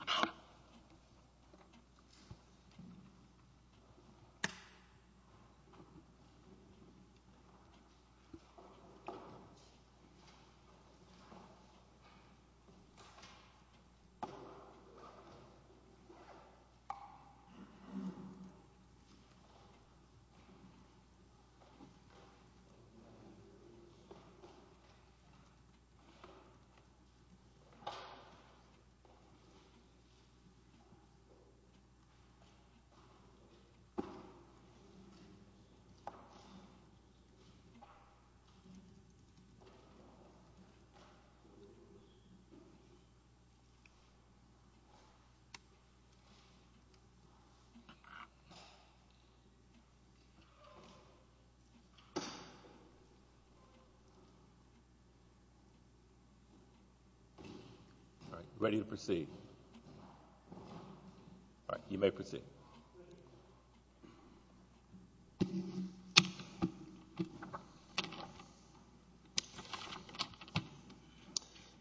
All right. Ready to proceed. You may proceed.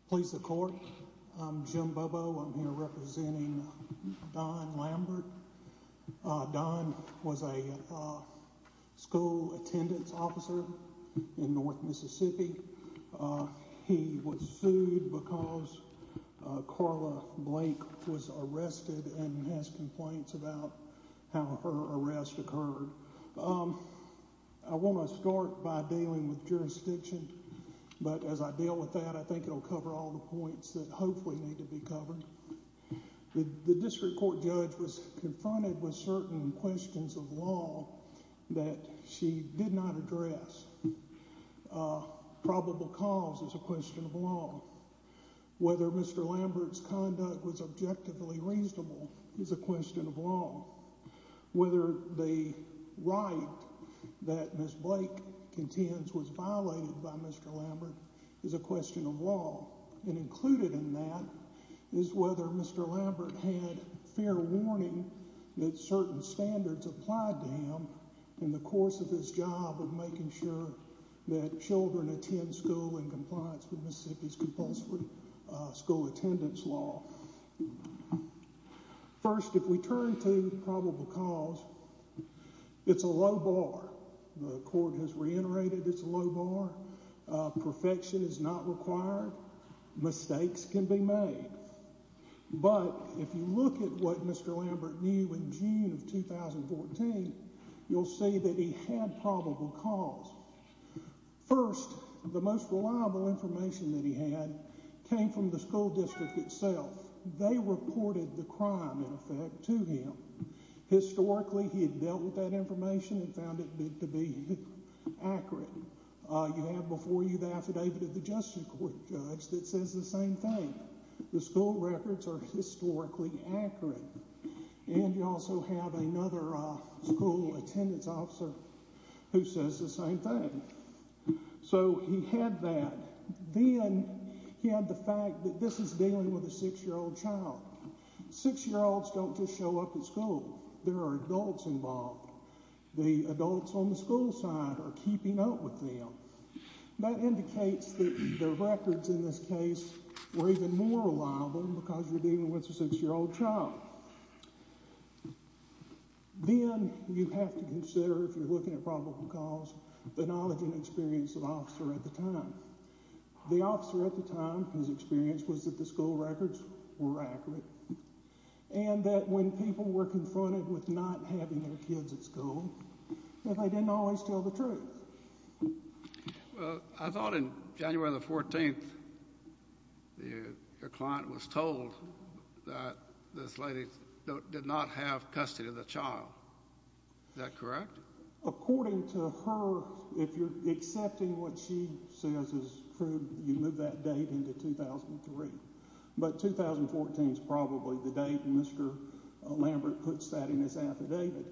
Please support Jim Bobo. I'm here representing Don Lambert. Don was a school attendance officer in North Mississippi. He was sued because Carla Blake was arrested and has complaints about how her arrest occurred. I want to start by dealing with jurisdiction. But as I deal with that, I think it'll cover all the points that hopefully need to be covered. The district court judge was confronted with certain questions of law that she did not address. Probable cause is a question of law. Whether Mr. Lambert's conduct was objectively reasonable is a question of law. Whether the right that Ms. Blake contends was violated by Mr. Lambert is a question of law. And included in that is whether Mr. Lambert had fair warning that certain standards applied to him in the course of his job of making sure that children attend school in compliance with Mississippi's compulsory school attendance law. First, if we turn to probable cause, it's a low bar. The court has reiterated its low bar. Perfection is not required. Mistakes can be made. But if you look at what Mr. Lambert knew in June of 2014, you'll see that he had probable cause. First, the most reliable information that he had came from the school district itself. They reported the crime in effect to him. Historically, he had dealt with that information and found it to be accurate. You have before you the affidavit of the justice court judge that says the same thing. The school records are historically accurate. And you also have another school attendance officer who says the same thing. So he had that. Then he had the fact that this is dealing with a six-year-old child. Six-year-olds don't just show up at school. There are adults involved. The adults on the school side are keeping up with them. That indicates that the records in this case were even more reliable because you're dealing with a six-year-old child. Then you have to consider, if you're looking at probable cause, the knowledge and experience of the officer at the time. The officer at the time whose experience was that the school records were accurate and that when people were confronted with not having their kids at school, that they didn't always tell the truth. Well, I thought in January the 14th, your client was told that this lady did not have custody of the child. Is that correct? According to her, if you're accepting what she says is true, you move that date into 2003. But 2014 is probably the date Mr. Lambert puts that in his affidavit.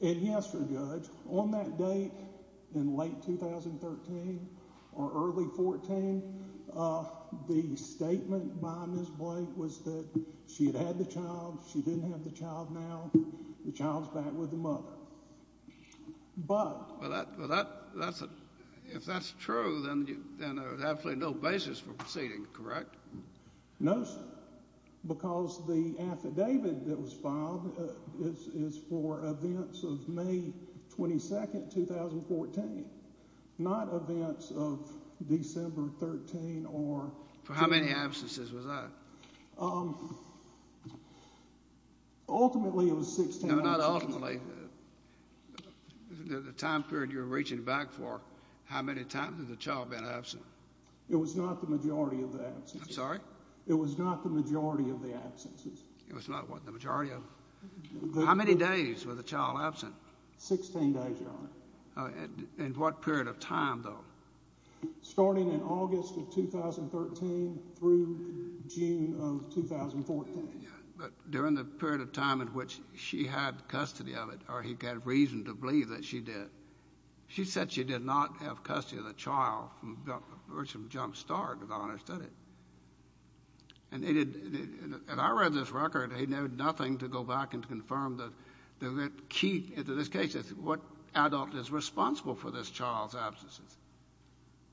And yes, your judge, on that date in late 2013 or early 14, the statement by Ms. Blake was that she had had the child. She didn't have the child now. The child's back with the mother. But— Well, if that's true, then there's absolutely no basis for proceeding, correct? No, sir. Because the affidavit that was filed is for events of May 22, 2014, not events of December 13 or— For how many absences was that? Um, ultimately it was 16 absences. No, not ultimately. The time period you're reaching back for, how many times has the child been absent? I'm sorry? It was not the majority of the absences. It was not what, the majority of— How many days was the child absent? 16 days, Your Honor. In what period of time, though? Starting in August of 2013 through June of 2014. Yeah, but during the period of time in which she had custody of it, or he had reason to believe that she did, she said she did not have custody of the child from the virtue of a jump start, if I understood it. And it had—and I read this record. It had nothing to go back and confirm the key into this case. It's what adult is responsible for this child's absences.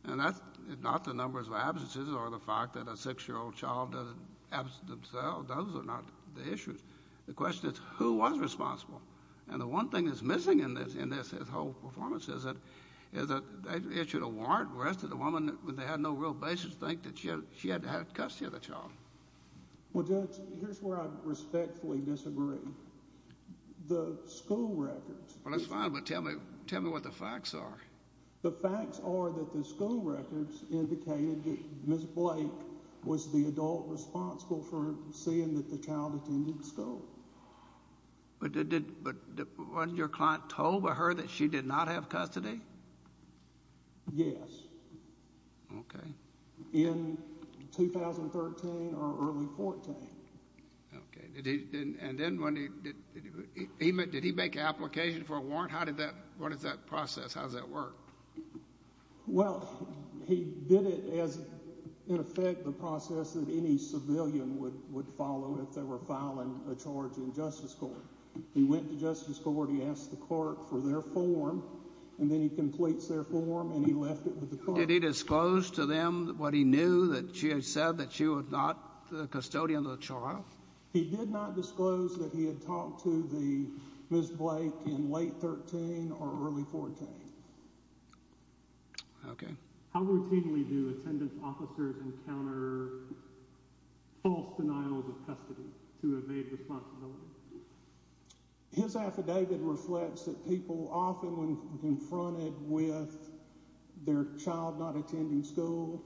And that's not the numbers of absences or the fact that a 6-year-old child doesn't absent themselves. Those are not the issues. The question is, who was responsible? And the one thing that's missing in this whole performance is that they issued a warrant. The rest of the women, they had no real basis to think that she had custody of the child. Well, Judge, here's where I respectfully disagree. The school records— Well, that's fine, but tell me what the facts are. The facts are that the school records indicated that Ms. Blake was the adult responsible for seeing that the child attended school. But did—but wasn't your client told by her that she did not have custody? Yes. Okay. In 2013 or early 14. Okay. Did he—and then when he—did he make an application for a warrant? How did that—what is that process? How does that work? Well, he did it as, in effect, the process that any civilian would follow if they were filing a charge in Justice Court. He went to Justice Court, he asked the court for their form, and then he completes their form, and he left it with the court. Did he disclose to them what he knew, that she had said that she was not the custodian of the child? He did not disclose that he had talked to the—Ms. Blake in late 13 or early 14. Okay. How routinely do attendance officers encounter false denials of custody to evade responsibility? His affidavit reflects that people often, when confronted with their child not attending school,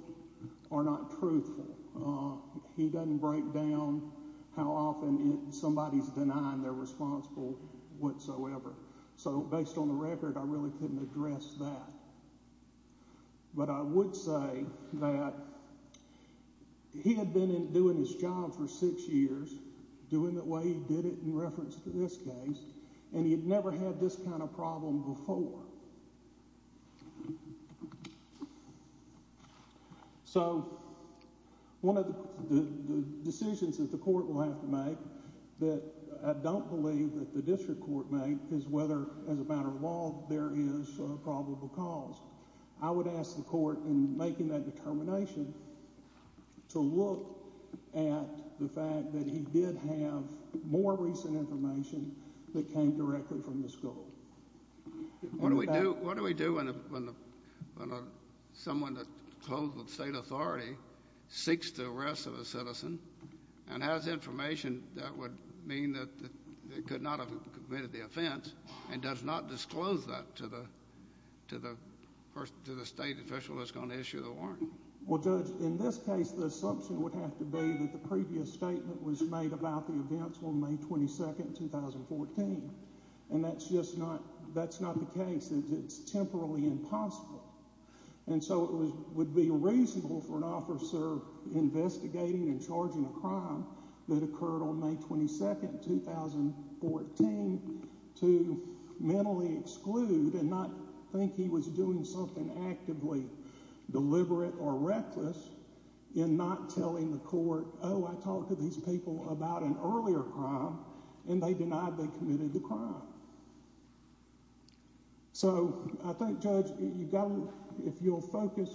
are not truthful. He doesn't break down how often somebody's denying they're responsible whatsoever. So, based on the record, I really couldn't address that. But I would say that he had been doing his job for six years, doing it the way he did it in reference to this case, and he had never had this kind of problem before. So, one of the decisions that the court will have to make that I don't believe that the district court made is whether, as a matter of law, there is a probable cause. I would ask the court, in making that determination, to look at the fact that he did have more recent information that came directly from the school. What do we do when someone that's closed with state authority seeks the arrest of a citizen and has information that would mean that they could not have committed the offense and does not disclose that to the state official that's going to issue the warrant? Well, Judge, in this case, the assumption would have to be that the previous statement was made about the events on May 22, 2014. And that's just not the case. It's temporally impossible. And so it would be reasonable for an officer investigating and charging a crime that occurred on May 22, 2014, to mentally exclude and not think he was doing something actively deliberate or reckless in not telling the court, oh, I talked to these people about an earlier crime, and they denied they committed the crime. So, I think, Judge, if you'll focus,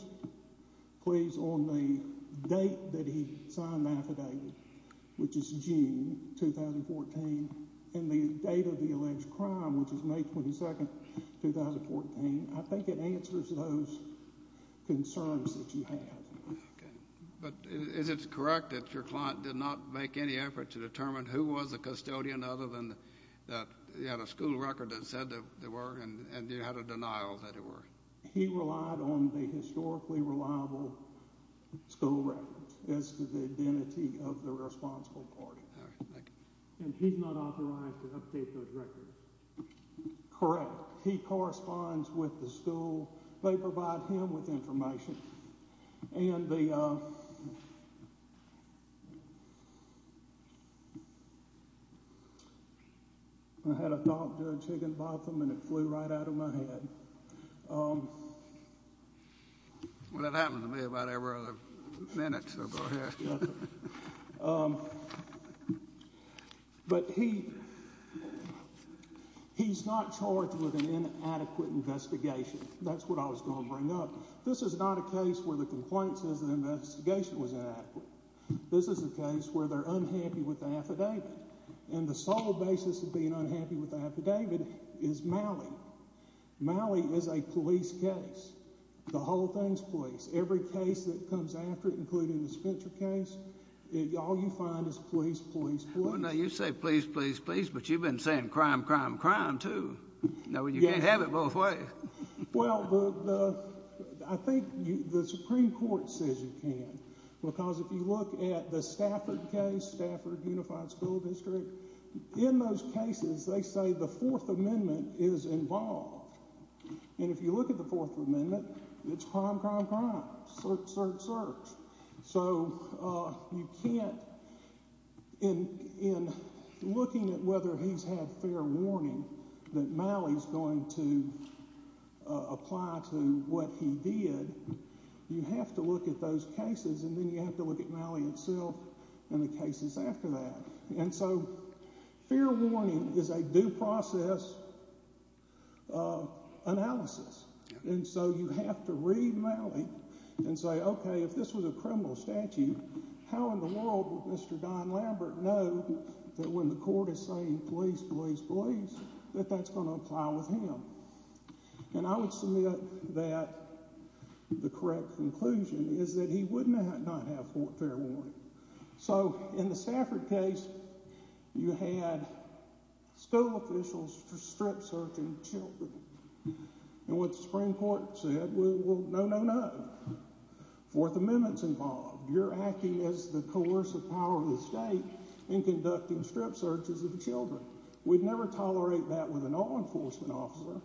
please, on the date that he signed the affidavit, which is June 2014, and the date of the alleged crime, which is May 22, 2014, I think it answers those concerns that you have. But is it correct that your client did not make any effort to determine who was the custodian, other than that he had a school record that said they were, and you had a denial that they were? He relied on the historically reliable school records as to the identity of the responsible party. All right. Thank you. And he's not authorized to update those records? Correct. He corresponds with the school. They provide him with information. And the—I had a thought, Judge Higginbotham, and it flew right out of my head. Well, it happened to me about every other minute, so go ahead. But he's not charged with an inadequate investigation. That's what I was going to bring up. This is not a case where the complaint says the investigation was inadequate. This is a case where they're unhappy with the affidavit. And the sole basis of being unhappy with the affidavit is Malley. Malley is a police case. The whole thing's police. Every case that comes after it, including the Spencer case, all you find is police, police, police. Well, now, you say police, police, police, but you've been saying crime, crime, crime, too. Now, you can't have it both ways. Well, I think the Supreme Court says you can. Because if you look at the Stafford case, Stafford Unified School District, in those cases, they say the Fourth Amendment is involved. And if you look at the Fourth Amendment, it's crime, crime, crime, search, search, search. So you can't—in looking at whether he's had fair warning that Malley's going to apply to what he did, you have to look at those cases, and then you have to look at Malley itself and the cases after that. And so fair warning is a due process analysis. And so you have to read Malley and say, okay, if this was a criminal statute, how in the world would Mr. Don Lambert know that when the court is saying police, police, police, that that's going to apply with him? And I would submit that the correct conclusion is that he would not have fair warning. So in the Stafford case, you had school officials strip searching children. And what the Supreme Court said, well, no, no, no. Fourth Amendment's involved. You're acting as the coercive power of the state in conducting strip searches of children. We'd never tolerate that with an law enforcement officer.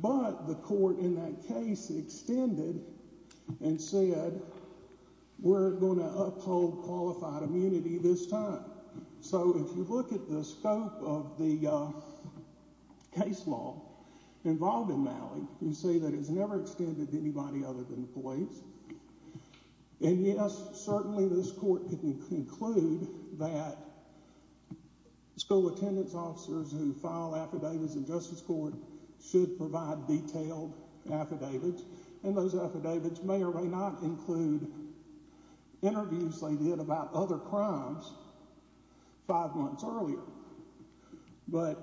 But the court in that case extended and said we're going to uphold qualified immunity this time. So if you look at the scope of the case law involved in Malley, you see that it's never extended to anybody other than the police. And yes, certainly this court can conclude that school attendance officers who file affidavits in justice court should provide detailed affidavits. And those affidavits may or may not include interviews they did about other crimes five months earlier. But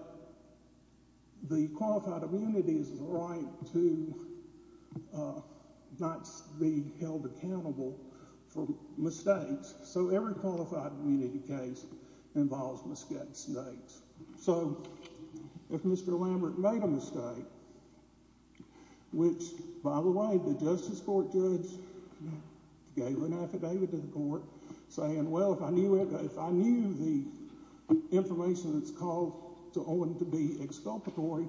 the qualified immunity is the right to not be held accountable for mistakes. So every qualified immunity case involves mistakes. So if Mr. Lambert made a mistake, which, by the way, the justice court judge gave an affidavit to the court saying, well, if I knew the information that's called to Owen to be exculpatory,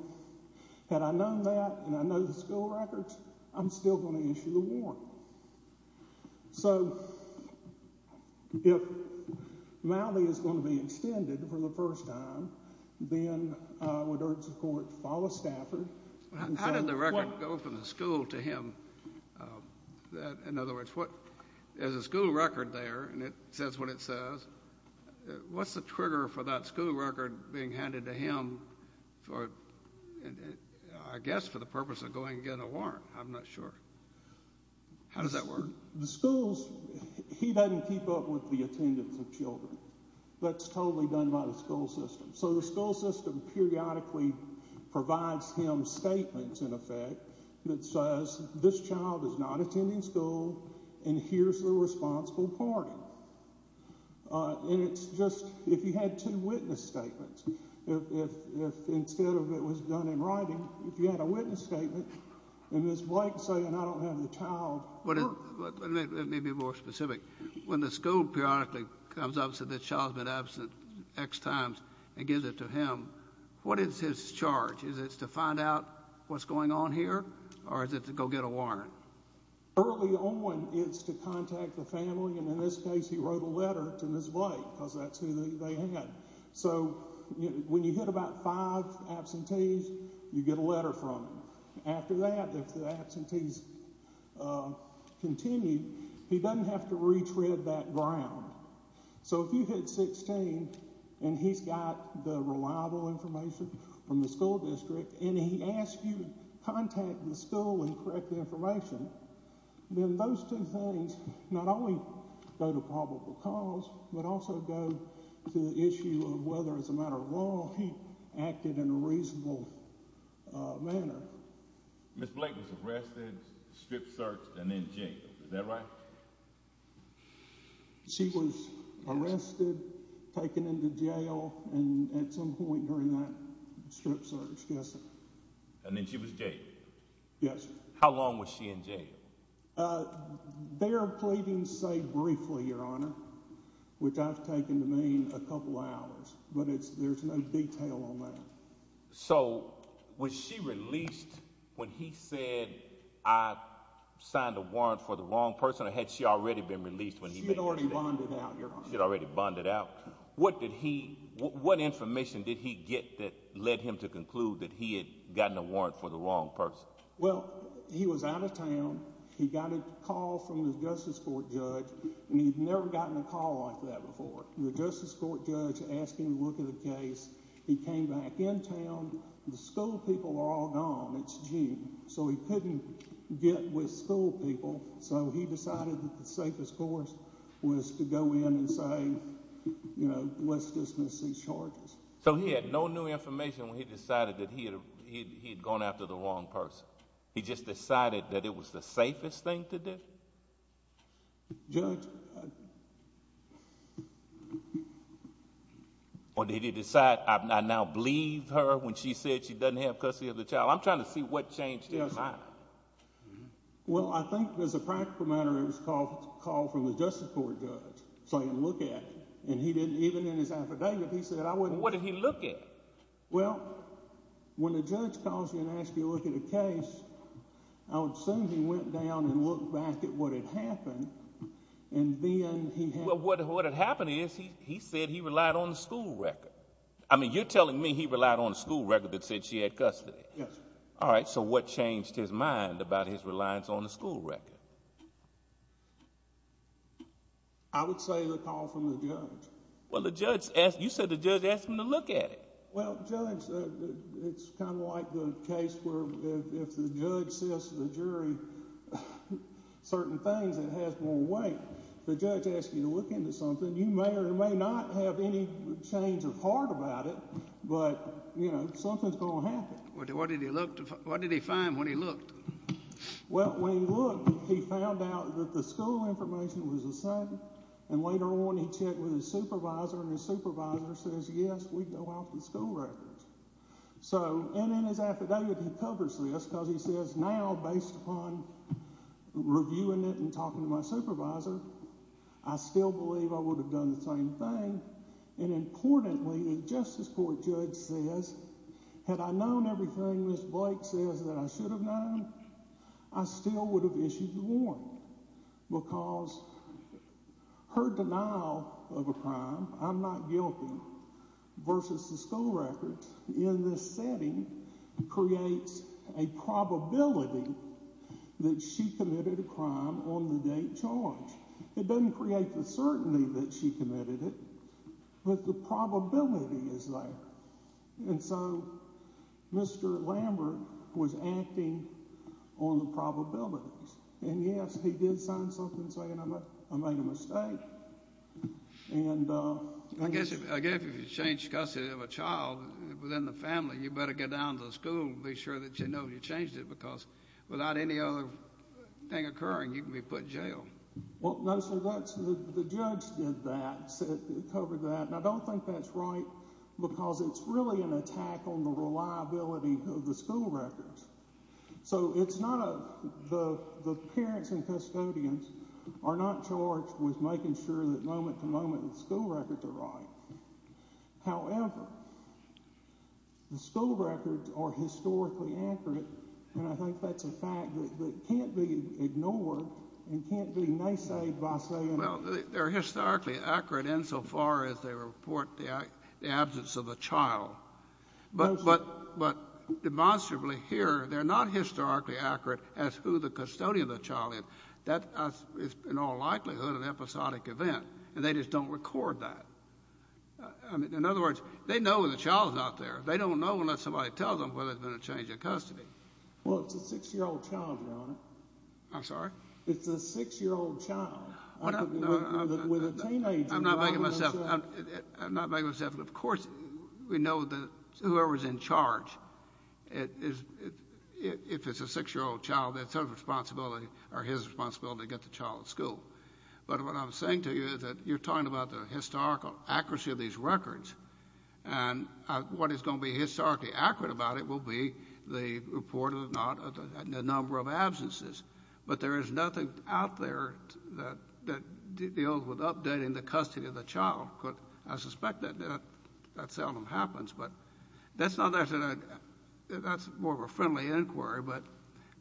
had I known that and I know the school records, I'm still going to issue the warrant. So if Malley is going to be extended for the first time, then I would urge the court to follow Stafford. How did the record go from the school to him? In other words, what is a school record there? And it says what it says. What's the trigger for that school record being handed to him for, I guess, for the purpose of going and getting a warrant? I'm not sure. How does that work? The schools, he doesn't keep up with the attendance of children. That's totally done by the school system. So the school system periodically provides him statements, in effect, that says this child is not attending school and here's the responsible party. And it's just if you had two witness statements, if instead of it was done in writing, if you had a witness statement, and Ms. Blake is saying I don't have the child. Let me be more specific. When the school periodically comes up and says this child's been absent X times and gives it to him, what is his charge? Is it to find out what's going on here or is it to go get a warrant? Early on, it's to contact the family. And in this case, he wrote a letter to Ms. Blake because that's who they had. So when you hit about five absentees, you get a letter from him. And after that, if the absentees continue, he doesn't have to retread that ground. So if you hit 16 and he's got the reliable information from the school district and he asks you to contact the school and correct the information, then those two things not only go to probable cause, but also go to the issue of whether, as a matter of law, he acted in a reasonable manner. Ms. Blake was arrested, strip searched, and then jailed. Is that right? She was arrested, taken into jail, and at some point during that strip search, yes, sir. And then she was jailed? Yes, sir. How long was she in jail? Their pleadings say briefly, Your Honor, which I've taken to mean a couple hours. But there's no detail on that. So was she released when he said, I signed a warrant for the wrong person, or had she already been released when he made his statement? She had already bonded out, Your Honor. She had already bonded out. What information did he get that led him to conclude that he had gotten a warrant for the wrong person? Well, he was out of town. He got a call from the Justice Court judge, and he'd never gotten a call like that before. The Justice Court judge asked him to look at a case. He came back in town. The school people were all gone. It's June. So he couldn't get with school people, so he decided that the safest course was to go in and say, you know, let's dismiss these charges. So he had no new information when he decided that he had gone after the wrong person? He just decided that it was the safest thing to do? Judge. Or did he decide, I now believe her when she said she doesn't have custody of the child? I'm trying to see what changed his mind. Well, I think as a practical matter, it was a call from the Justice Court judge saying look at it. And he didn't even in his affidavit, he said I wouldn't. What did he look at? Well, when the judge calls you and asks you to look at a case, I would assume he went down and looked back at what had happened. And then he had. Well, what had happened is he said he relied on the school record. I mean, you're telling me he relied on the school record that said she had custody. Yes. All right, so what changed his mind about his reliance on the school record? I would say the call from the judge. Well, the judge, you said the judge asked him to look at it. Well, Judge, it's kind of like the case where if the judge says to the jury certain things, it has more weight. The judge asks you to look into something. You may or may not have any change of heart about it, but, you know, something's going to happen. What did he look, what did he find when he looked? Well, when he looked, he found out that the school information was the same. And later on, he checked with his supervisor, and his supervisor says, yes, we go off the school record. So, and in his affidavit, he covers this because he says, now, based upon reviewing it and talking to my supervisor, I still believe I would have done the same thing. And importantly, the Justice Court judge says, had I known everything Ms. Blake says that I should have known, I still would have issued the warrant. Because her denial of a crime, I'm not guilty, versus the school record in this setting creates a probability that she committed a crime on the date charged. It doesn't create the certainty that she committed it, but the probability is there. And so Mr. Lambert was acting on the probabilities. And, yes, he did sign something saying I made a mistake. And I guess if you change custody of a child within the family, you better get down to the school and be sure that you know you changed it, because without any other thing occurring, you can be put in jail. Well, no, so that's, the judge did that, covered that, and I don't think that's right, because it's really an attack on the reliability of the school records. So it's not a, the parents and custodians are not charged with making sure that moment to moment the school records are right. However, the school records are historically accurate, and I think that's a fact that can't be ignored and can't be naysayed by saying. Well, they're historically accurate insofar as they report the absence of a child. But demonstrably here, they're not historically accurate as to who the custodian of the child is. That is in all likelihood an episodic event, and they just don't record that. In other words, they know when the child's not there. They don't know unless somebody tells them whether there's been a change of custody. Well, it's a six-year-old child, Your Honor. I'm sorry? It's a six-year-old child with a teenager. I'm not making myself, of course we know that whoever's in charge, if it's a six-year-old child, it's his responsibility to get the child to school. But what I'm saying to you is that you're talking about the historical accuracy of these records, and what is going to be historically accurate about it will be the report of the number of absences. But there is nothing out there that deals with updating the custody of the child. I suspect that seldom happens, but that's more of a friendly inquiry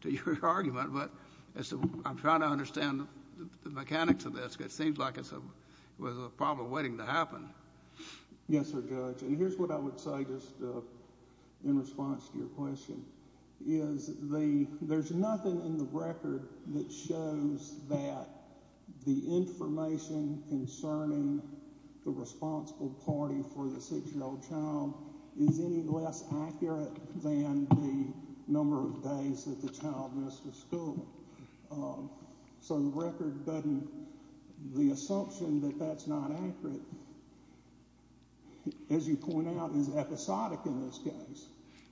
to your argument. But I'm trying to understand the mechanics of this because it seems like it's a problem waiting to happen. Yes, sir, Judge. And here's what I would say just in response to your question, is there's nothing in the record that shows that the information concerning the responsible party for the six-year-old child is any less accurate than the number of days that the child missed the school. So the record doesn't, the assumption that that's not accurate, as you point out, is episodic in this case.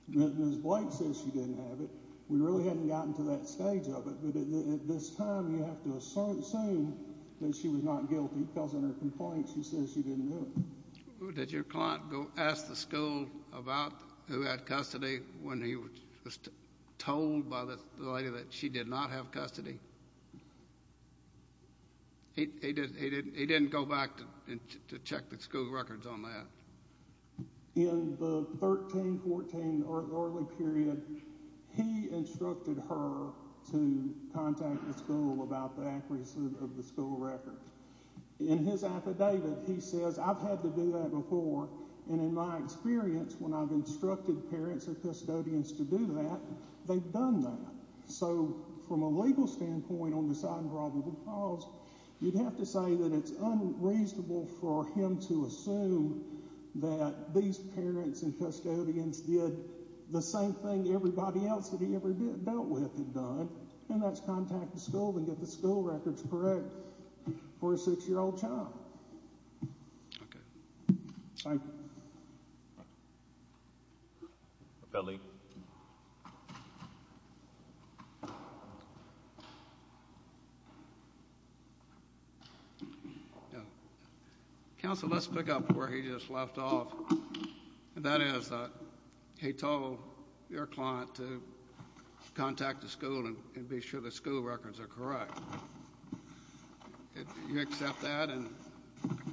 Ms. Blake says she didn't have it. We really haven't gotten to that stage of it, but at this time you have to assume that she was not guilty because in her complaint she says she didn't do it. Did your client ask the school about who had custody when he was told by the lady that she did not have custody? He didn't go back to check the school records on that. In the 13-14 early period, he instructed her to contact the school about the accuracy of the school records. In his affidavit, he says, I've had to do that before, and in my experience, when I've instructed parents or custodians to do that, they've done that. So from a legal standpoint on the side of probable cause, you'd have to say that it's unreasonable for him to assume that these parents and custodians did the same thing everybody else that he ever dealt with had done, and that's contact the school and get the school records correct for a six-year-old child. Okay. Thank you. Appellee. Counsel, let's pick up where he just left off. That is, he told your client to contact the school and be sure the school records are correct. Do you accept that?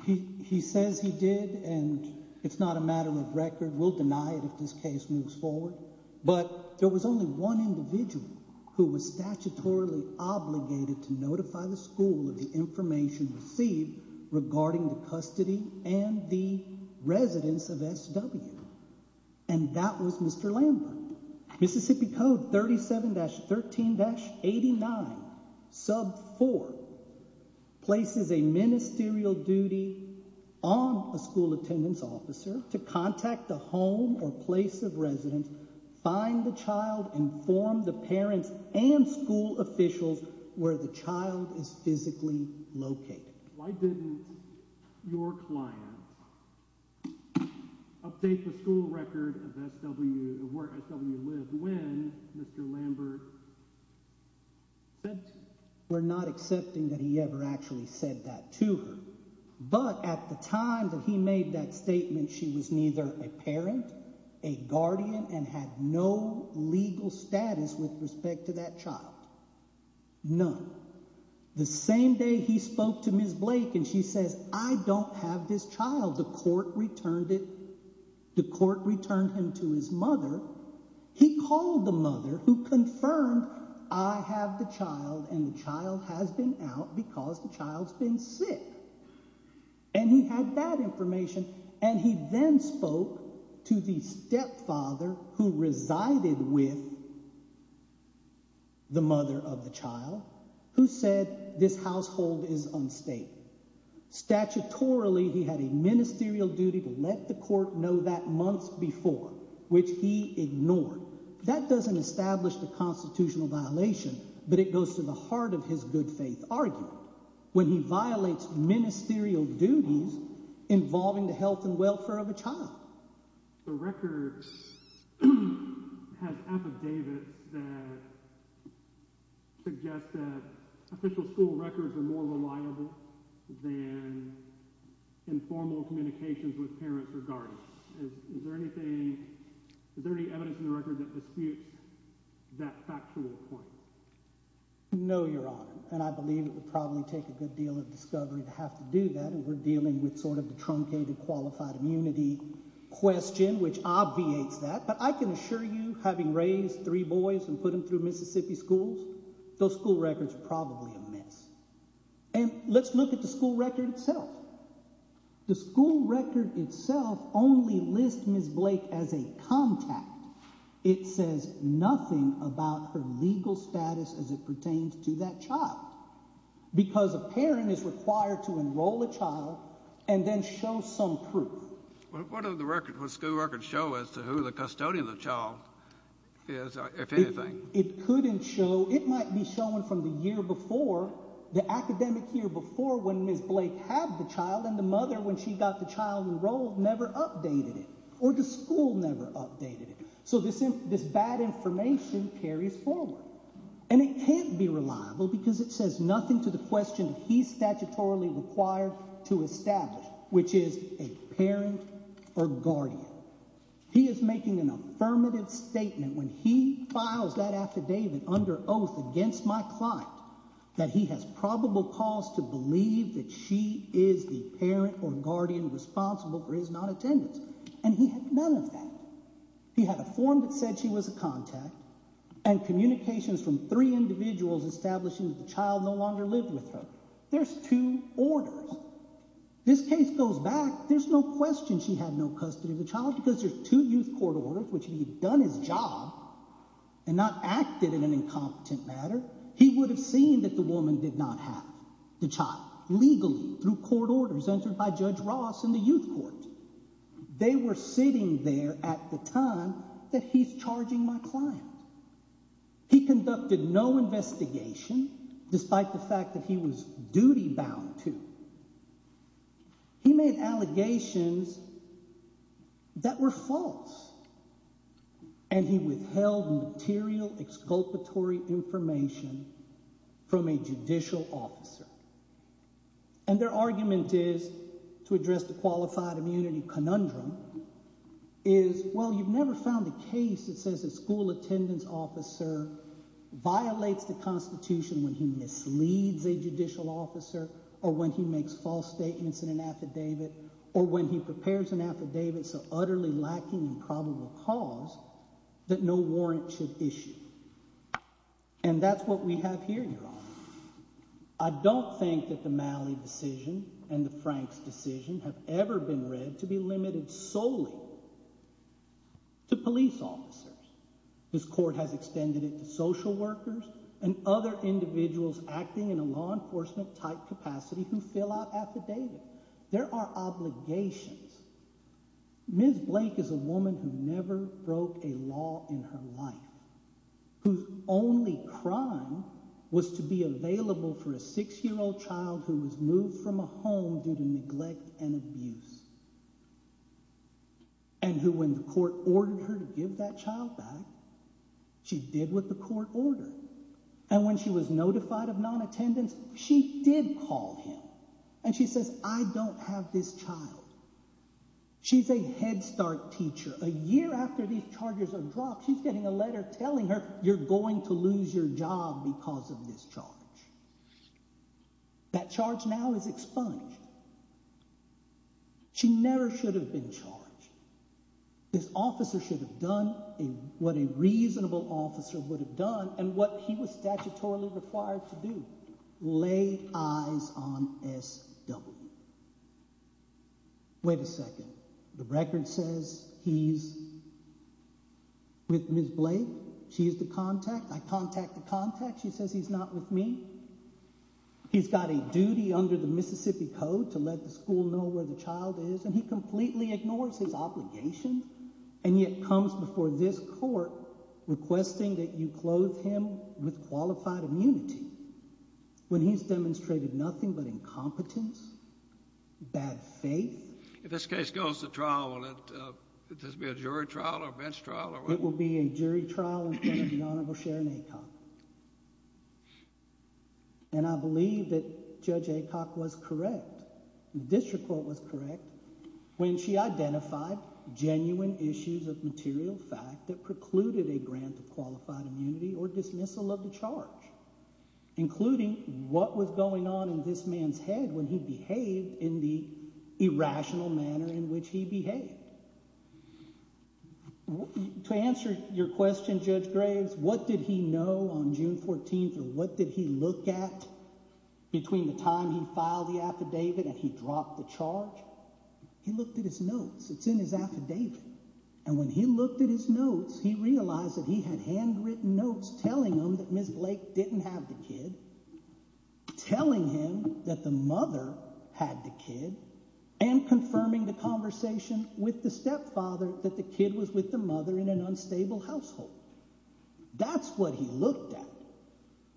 He says he did, and it's not a matter of record. We'll deny it if this case moves forward. But there was only one individual who was statutorily obligated to notify the school of the information received regarding the custody and the residence of SW, and that was Mr. Lambert. Mississippi Code 37-13-89, sub 4, places a ministerial duty on a school attendance officer to contact the home or place of residence, find the child, inform the parents and school officials where the child is physically located. Why didn't your client update the school record of where SW lived when Mr. Lambert sent? We're not accepting that he ever actually said that to her. But at the time that he made that statement, she was neither a parent, a guardian, and had no legal status with respect to that child. None. The same day he spoke to Ms. Blake and she says, I don't have this child. The court returned it. The court returned him to his mother. He called the mother who confirmed I have the child and the child has been out because the child's been sick. And he had that information and he then spoke to the stepfather who resided with the mother of the child who said this household is unstated. Statutorily, he had a ministerial duty to let the court know that months before, which he ignored. That doesn't establish the constitutional violation, but it goes to the heart of his good faith argument. When he violates ministerial duties involving the health and welfare of a child. The record has affidavits that suggest that official school records are more reliable than informal communications with parents or guardians. Is there anything – is there any evidence in the record that disputes that factual point? No, Your Honor, and I believe it would probably take a good deal of discovery to have to do that. And we're dealing with sort of the truncated qualified immunity question, which obviates that. But I can assure you, having raised three boys and put them through Mississippi schools, those school records are probably a mess. And let's look at the school record itself. The school record itself only lists Ms. Blake as a contact. It says nothing about her legal status as it pertains to that child. Because a parent is required to enroll a child and then show some proof. What does the school record show as to who the custodian of the child is, if anything? It couldn't show – it might be shown from the year before, the academic year before, when Ms. Blake had the child. And the mother, when she got the child enrolled, never updated it. Or the school never updated it. So this bad information carries forward. And it can't be reliable because it says nothing to the question he's statutorily required to establish, which is a parent or guardian. He is making an affirmative statement when he files that affidavit under oath against my client that he has probable cause to believe that she is the parent or guardian responsible for his non-attendance. And he had none of that. He had a form that said she was a contact and communications from three individuals establishing that the child no longer lived with her. There's two orders. This case goes back – there's no question she had no custody of the child because there's two youth court orders, which if he had done his job and not acted in an incompetent manner, he would have seen that the woman did not have the child legally through court orders entered by Judge Ross in the youth court. They were sitting there at the time that he's charging my client. He conducted no investigation despite the fact that he was duty-bound to. He made allegations that were false. And he withheld material exculpatory information from a judicial officer. And their argument is, to address the qualified immunity conundrum, is, well, you've never found a case that says a school attendance officer violates the constitution when he misleads a judicial officer or when he makes false statements in an affidavit or when he prepares an affidavit so utterly lacking in probable cause that no warrant should issue. And that's what we have here, Your Honor. I don't think that the Malley decision and the Franks decision have ever been read to be limited solely to police officers. This court has extended it to social workers and other individuals acting in a law enforcement-type capacity who fill out affidavits. There are obligations. Ms. Blake is a woman who never broke a law in her life, whose only crime was to be available for a six-year-old child who was moved from a home due to neglect and abuse. And who, when the court ordered her to give that child back, she did what the court ordered. And when she was notified of non-attendance, she did call him. And she says, I don't have this child. She's a Head Start teacher. A year after these charges are dropped, she's getting a letter telling her, you're going to lose your job because of this charge. That charge now is expunged. She never should have been charged. This officer should have done what a reasonable officer would have done and what he was statutorily required to do, lay eyes on SW. Wait a second. The record says he's with Ms. Blake. She's the contact. I contact the contact. She says he's not with me. He's got a duty under the Mississippi Code to let the school know where the child is. And he completely ignores his obligation and yet comes before this court requesting that you clothe him with qualified immunity when he's demonstrated nothing but incompetence, bad faith. If this case goes to trial, will it be a jury trial or a bench trial? It will be a jury trial in front of the Honorable Sharon Aycock. And I believe that Judge Aycock was correct. The district court was correct when she identified genuine issues of material fact that precluded a grant of qualified immunity or dismissal of the charge, including what was going on in this man's head when he behaved in the irrational manner in which he behaved. To answer your question, Judge Graves, what did he know on June 14th and what did he look at between the time he filed the affidavit and he dropped the charge? He looked at his notes. It's in his affidavit. And when he looked at his notes, he realized that he had handwritten notes telling him that Ms. Blake didn't have the kid, telling him that the mother had the kid, and confirming the conversation with the stepfather that the kid was with the mother in an unstable household. That's what he looked at.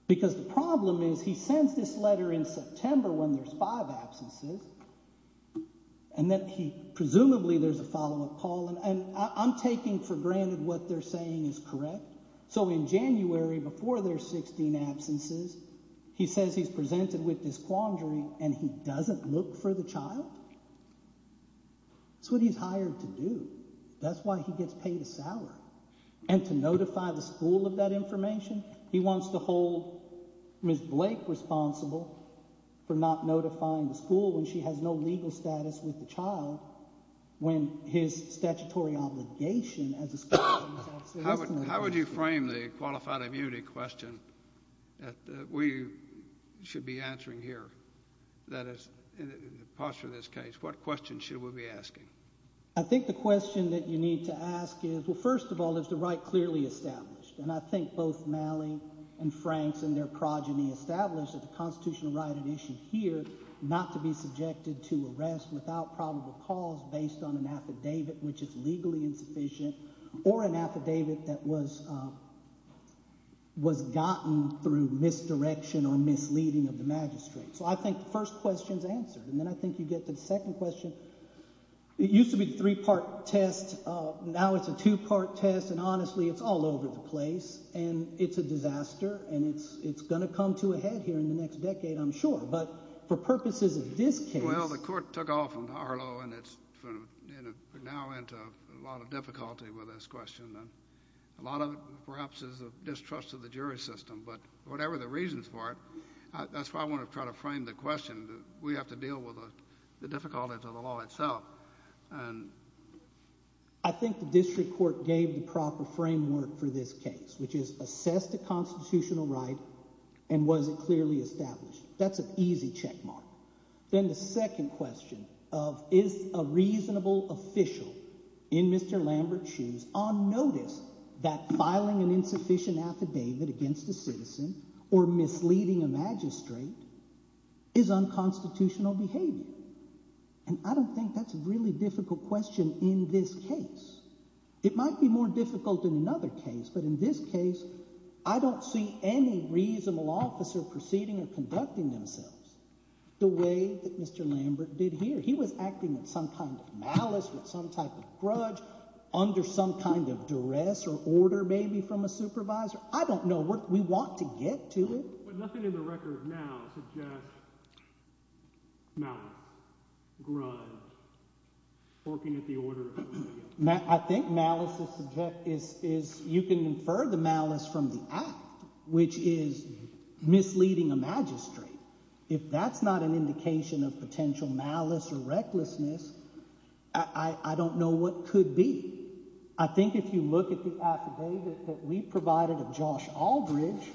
Because the problem is he sends this letter in September when there's five absences, and then presumably there's a follow-up call. And I'm taking for granted what they're saying is correct. So in January, before there's 16 absences, he says he's presented with this quandary and he doesn't look for the child? That's what he's hired to do. That's why he gets paid a salary. And to notify the school of that information? He wants to hold Ms. Blake responsible for not notifying the school when she has no legal status with the child when his statutory obligation as a school teacher is at stake. How would you frame the qualified immunity question that we should be answering here? That is, in the posture of this case, what question should we be asking? I think the question that you need to ask is, well, first of all, is the right clearly established? And I think both Malley and Franks and their progeny established that the constitutional right at issue here not to be subjected to arrest without probable cause based on an affidavit which is legally insufficient or an affidavit that was gotten through misdirection or misleading of the magistrate. So I think the first question is answered. And then I think you get to the second question. It used to be a three part test. Now it's a two part test. And honestly, it's all over the place. And it's a disaster. And it's going to come to a head here in the next decade, I'm sure. But for purposes of this case. Well, the court took off from Harlow and it's now into a lot of difficulty with this question. A lot of it perhaps is a distrust of the jury system. But whatever the reasons for it, that's why I want to try to frame the question. We have to deal with the difficulties of the law itself. And I think the district court gave the proper framework for this case, which is assess the constitutional right and was it clearly established. That's an easy checkmark. Then the second question of is a reasonable official in Mr. Lambert's shoes on notice that filing an insufficient affidavit against a citizen or misleading a magistrate is unconstitutional behavior. And I don't think that's a really difficult question in this case. It might be more difficult in another case. But in this case, I don't see any reasonable officer proceeding or conducting themselves. The way that Mr. Lambert did here, he was acting in some kind of malice with some type of grudge under some kind of duress or order, maybe from a supervisor. I don't know what we want to get to it, but nothing in the record now. No. Working at the order. I think malice is you can infer the malice from the act, which is misleading a magistrate. If that's not an indication of potential malice or recklessness, I don't know what could be. I think if you look at the affidavit that we provided of Josh Aldridge,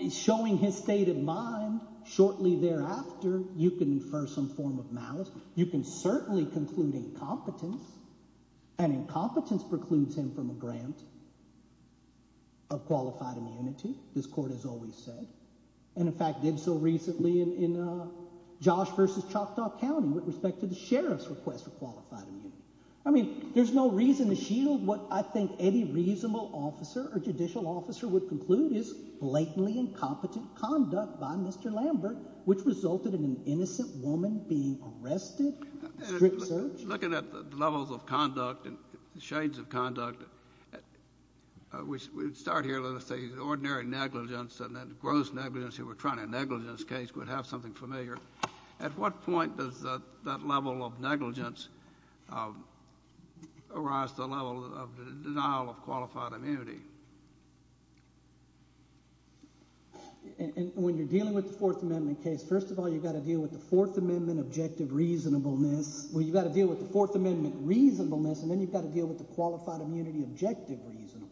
it's showing his state of mind. Shortly thereafter, you can infer some form of malice. You can certainly conclude incompetence, and incompetence precludes him from a grant of qualified immunity. This court has always said and, in fact, did so recently in Josh v. Choctaw County with respect to the sheriff's request for qualified immunity. I mean, there's no reason to shield what I think any reasonable officer or judicial officer would conclude is blatantly incompetent conduct by Mr. Lambert, which resulted in an innocent woman being arrested. Strict search. Looking at the levels of conduct and shades of conduct, we start here with the ordinary negligence and that gross negligence. If you were trying a negligence case, you would have something familiar. At what point does that level of negligence arise to the level of the denial of qualified immunity? When you're dealing with the Fourth Amendment case, first of all, you've got to deal with the Fourth Amendment objective reasonableness. Well, you've got to deal with the Fourth Amendment reasonableness, and then you've got to deal with the qualified immunity objective reasonableness.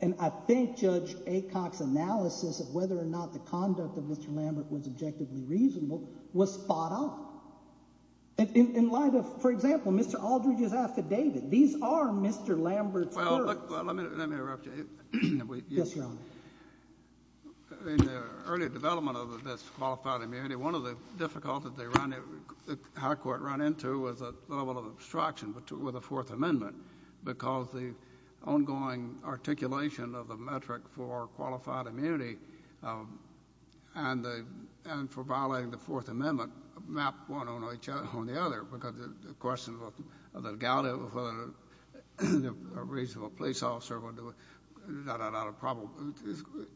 And I think Judge Acock's analysis of whether or not the conduct of Mr. Lambert was objectively reasonable was spot on. In light of, for example, Mr. Aldridge's affidavit, these are Mr. Lambert's words. Well, let me interrupt you. Yes, Your Honor. In the early development of this qualified immunity, one of the difficulties the High Court ran into was the level of obstruction with the Fourth Amendment because the ongoing articulation of the metric for qualified immunity and for violating the Fourth Amendment mapped one on the other because the question of the legality of a reasonable police officer,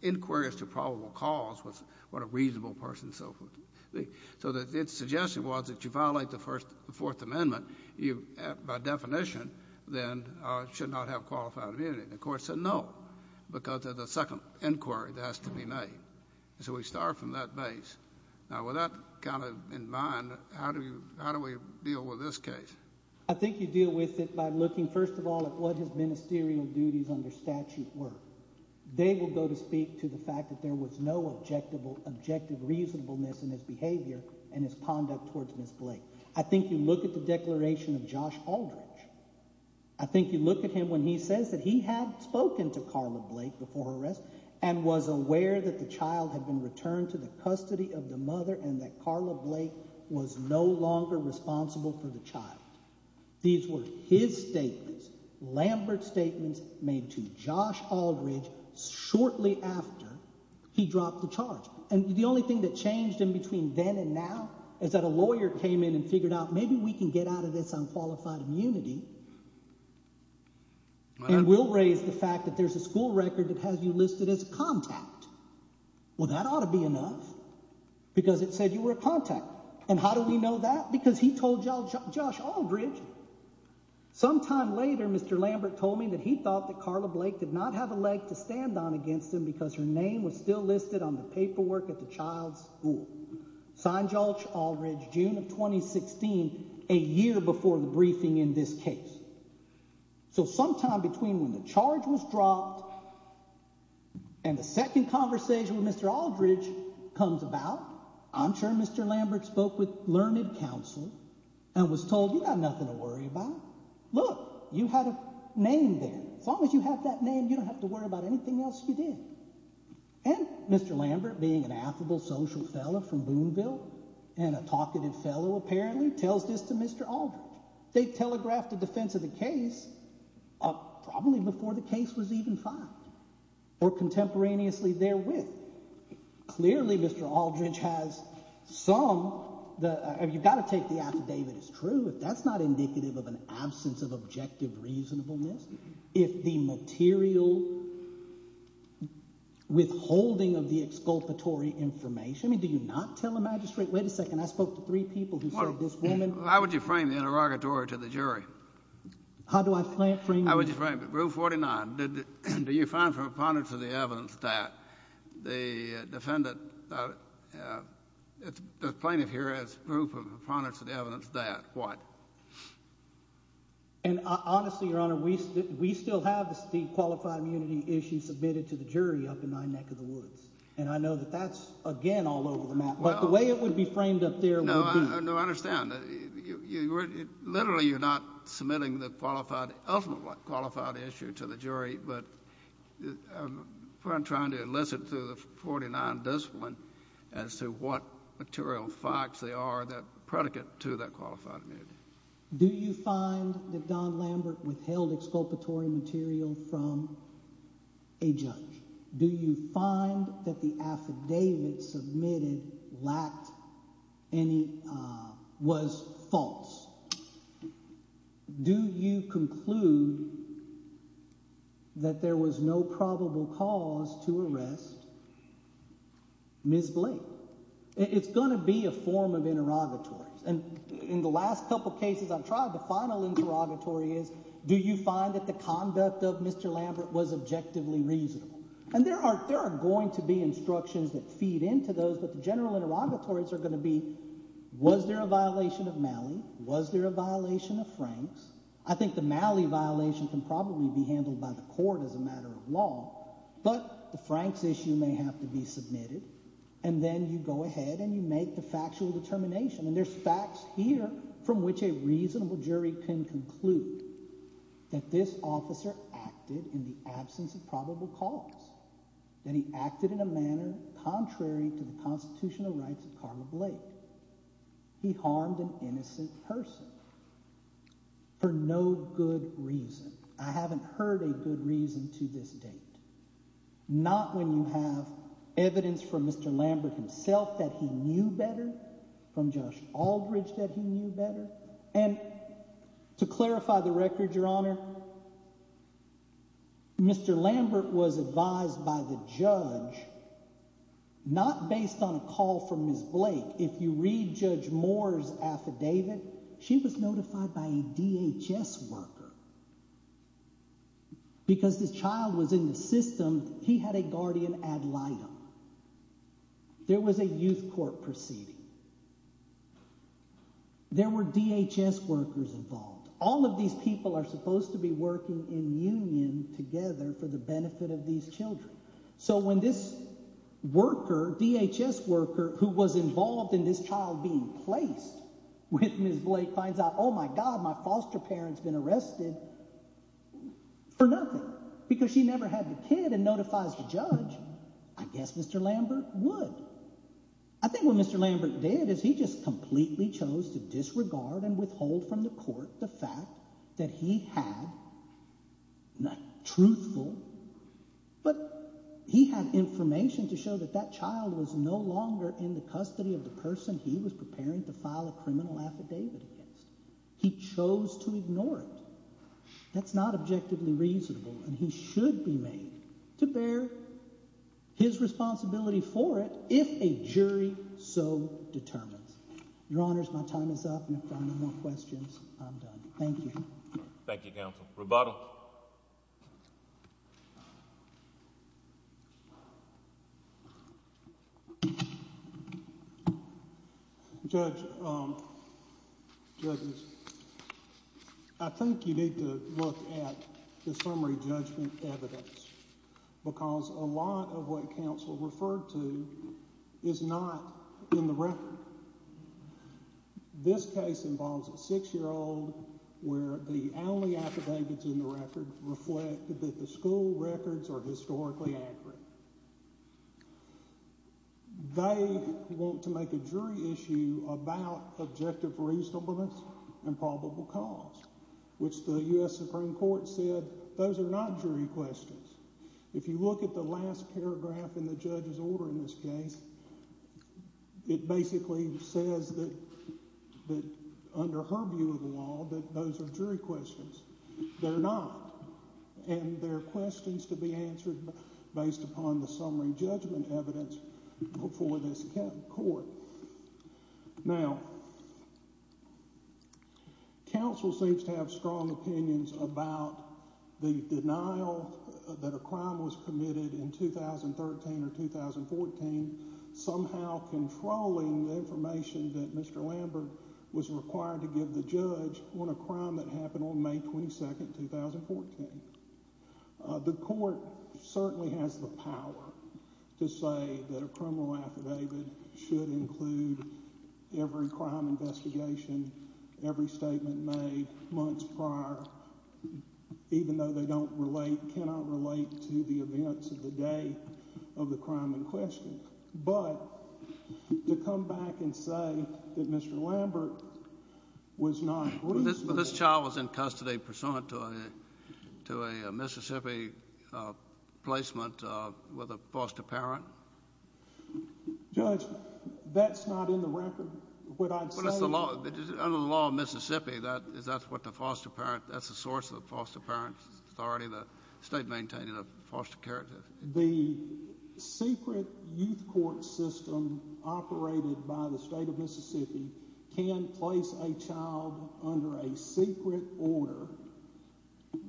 inquiries to probable cause, what a reasonable person, and so forth. So its suggestion was that you violate the Fourth Amendment, you by definition then should not have qualified immunity. And the Court said no because of the second inquiry that has to be made. So we start from that base. Now, with that kind of in mind, how do we deal with this case? I think you deal with it by looking, first of all, at what his ministerial duties under statute were. They will go to speak to the fact that there was no objective reasonableness in his behavior and his conduct towards Ms. Blake. I think you look at the declaration of Josh Aldridge. I think you look at him when he says that he had spoken to Carla Blake before her arrest and was aware that the child had been returned to the custody of the mother and that Carla Blake was no longer responsible for the child. These were his statements, Lambert's statements made to Josh Aldridge shortly after he dropped the charge. And the only thing that changed in between then and now is that a lawyer came in and figured out maybe we can get out of this unqualified immunity. And we'll raise the fact that there's a school record that has you listed as a contact. Well, that ought to be enough because it said you were a contact. And how do we know that? Because he told Josh Aldridge. Sometime later, Mr. Lambert told me that he thought that Carla Blake did not have a leg to stand on against him because her name was still listed on the paperwork at the child's school. Signed Josh Aldridge, June of 2016, a year before the briefing in this case. So sometime between when the charge was dropped and the second conversation with Mr. Aldridge comes about, I'm sure Mr. Lambert spoke with learned counsel and was told you got nothing to worry about. Look, you had a name there. As long as you have that name, you don't have to worry about anything else you did. And Mr. Lambert, being an affable social fellow from Boonville and a talkative fellow, apparently tells this to Mr. Aldridge. They telegraphed the defense of the case probably before the case was even filed or contemporaneously therewith. Clearly, Mr. Aldridge has some—you've got to take the affidavit as true. If that's not indicative of an absence of objective reasonableness, if the material withholding of the exculpatory information—I mean, do you not tell a magistrate? Wait a second. I spoke to three people who served this woman. How would you frame the interrogatory to the jury? How do I frame it? How would you frame it? Rule 49, do you find from abundance of the evidence that the defendant—the plaintiff here has proof of abundance of the evidence that what? And honestly, Your Honor, we still have the qualified immunity issue submitted to the jury up in my neck of the woods. And I know that that's, again, all over the map. But the way it would be framed up there would be— No, I understand. Literally, you're not submitting the qualified—ultimate qualified issue to the jury. But I'm trying to enlist it through the 49 discipline as to what material facts there are that predicate to that qualified immunity. Do you find that Don Lambert withheld exculpatory material from a judge? Do you find that the affidavit submitted lacked any—was false? Do you conclude that there was no probable cause to arrest Ms. Blake? It's going to be a form of interrogatory. And in the last couple cases I've tried, the final interrogatory is, do you find that the conduct of Mr. Lambert was objectively reasonable? And there are going to be instructions that feed into those, but the general interrogatories are going to be, was there a violation of Malley? Was there a violation of Franks? I think the Malley violation can probably be handled by the court as a matter of law, but the Franks issue may have to be submitted. And then you go ahead and you make the factual determination. And there's facts here from which a reasonable jury can conclude that this officer acted in the absence of probable cause, that he acted in a manner contrary to the constitutional rights of Carla Blake. He harmed an innocent person for no good reason. I haven't heard a good reason to this date, not when you have evidence from Mr. Lambert himself that he knew better, from Josh Aldridge that he knew better. And to clarify the record, Your Honor, Mr. Lambert was advised by the judge, not based on a call from Ms. Blake. If you read Judge Moore's affidavit, she was notified by a DHS worker. Because the child was in the system, he had a guardian ad litem. There was a youth court proceeding. There were DHS workers involved. All of these people are supposed to be working in union together for the benefit of these children. So when this worker, DHS worker, who was involved in this child being placed with Ms. Blake finds out, oh my God, my foster parent's been arrested for nothing because she never had the kid and notifies the judge, I guess Mr. Lambert would. I think what Mr. Lambert did is he just completely chose to disregard and withhold from the court the fact that he had, not truthful, but he had information to show that that child was no longer in the custody of the person he was preparing to file a criminal affidavit against. He chose to ignore it. That's not objectively reasonable, and he should be made to bear his responsibility for it if a jury so determines. Your Honors, my time is up, and if there are no more questions, I'm done. Thank you. Thank you, Counsel. Rebuttal. Judge, I think you need to look at the summary judgment evidence because a lot of what counsel referred to is not in the record. This case involves a six-year-old where the only affidavits in the record reflect that the school records are historically accurate. They want to make a jury issue about objective reasonableness and probable cause, which the U.S. Supreme Court said those are not jury questions. If you look at the last paragraph in the judge's order in this case, it basically says that under her view of the law that those are jury questions. They're not, and they're questions to be answered based upon the summary judgment evidence before this court. Now, counsel seems to have strong opinions about the denial that a crime was committed in 2013 or 2014, somehow controlling the information that Mr. Lambert was required to give the judge on a crime that happened on May 22, 2014. The court certainly has the power to say that a criminal affidavit should include every crime investigation, every statement made months prior, even though they cannot relate to the events of the day of the crime in question. But to come back and say that Mr. Lambert was not— But this child was in custody pursuant to a Mississippi placement with a foster parent? Judge, that's not in the record. What I'd say— Well, that's the law. Under the law of Mississippi, that's what the foster parent—that's the source of the foster parent's authority, the state maintaining the foster care. The secret youth court system operated by the state of Mississippi can place a child under a secret order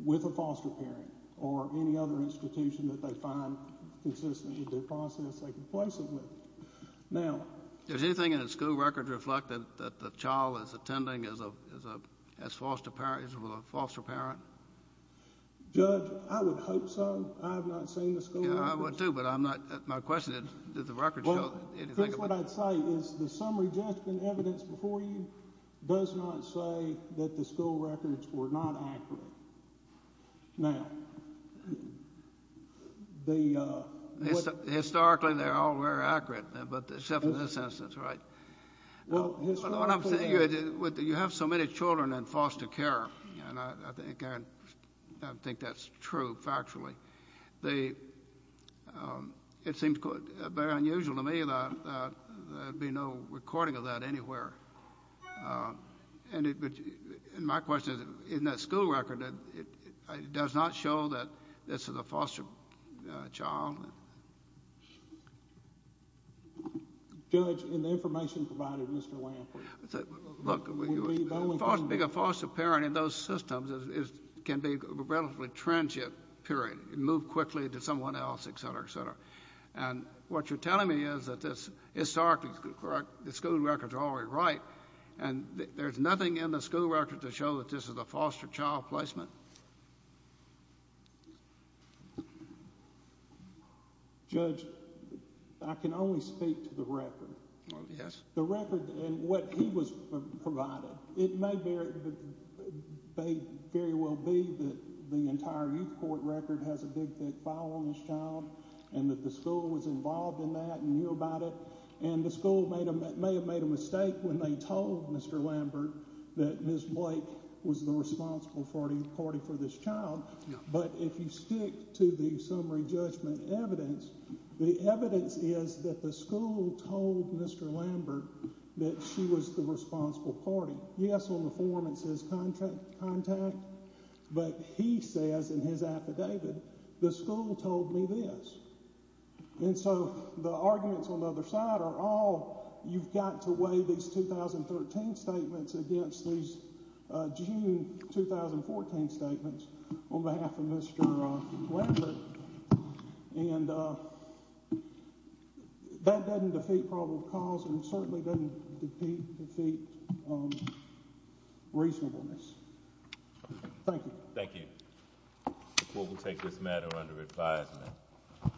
with a foster parent or any other institution that they find consistent with the process they can place them with. Now— Does anything in the school record reflect that the child is attending as a foster parent? Judge, I would hope so. I have not seen the school records. Yeah, I would too, but I'm not—my question is, did the record show anything about— Well, here's what I'd say, is the summary judgment evidence before you does not say that the school records were not accurate. Now, the— Historically, they're all very accurate, except in this instance, right? Well, historically— I think that's true factually. It seems very unusual to me that there'd be no recording of that anywhere. And my question is, in that school record, it does not show that this is a foster child? Judge, in the information provided, Mr. Lampert— Well, being a foster parent in those systems can be a relatively transient period. It can move quickly to someone else, et cetera, et cetera. And what you're telling me is that the school records are always right, and there's nothing in the school record to show that this is a foster child placement? Judge, I can only speak to the record. Yes. The record and what he was provided, it may very well be that the entire youth court record has a big, thick file on this child and that the school was involved in that and knew about it, and the school may have made a mistake when they told Mr. Lampert that Ms. Blake was the responsible party for this child. But if you stick to the summary judgment evidence, the evidence is that the school told Mr. Lampert that she was the responsible party. Yes, on the form it says contact, but he says in his affidavit, the school told me this. And so the arguments on the other side are all, you've got to weigh these 2013 statements against these June 2014 statements on behalf of Mr. Lampert. And that doesn't defeat probable cause and certainly doesn't defeat reasonableness. Thank you. Thank you. The court will take this matter under advisement.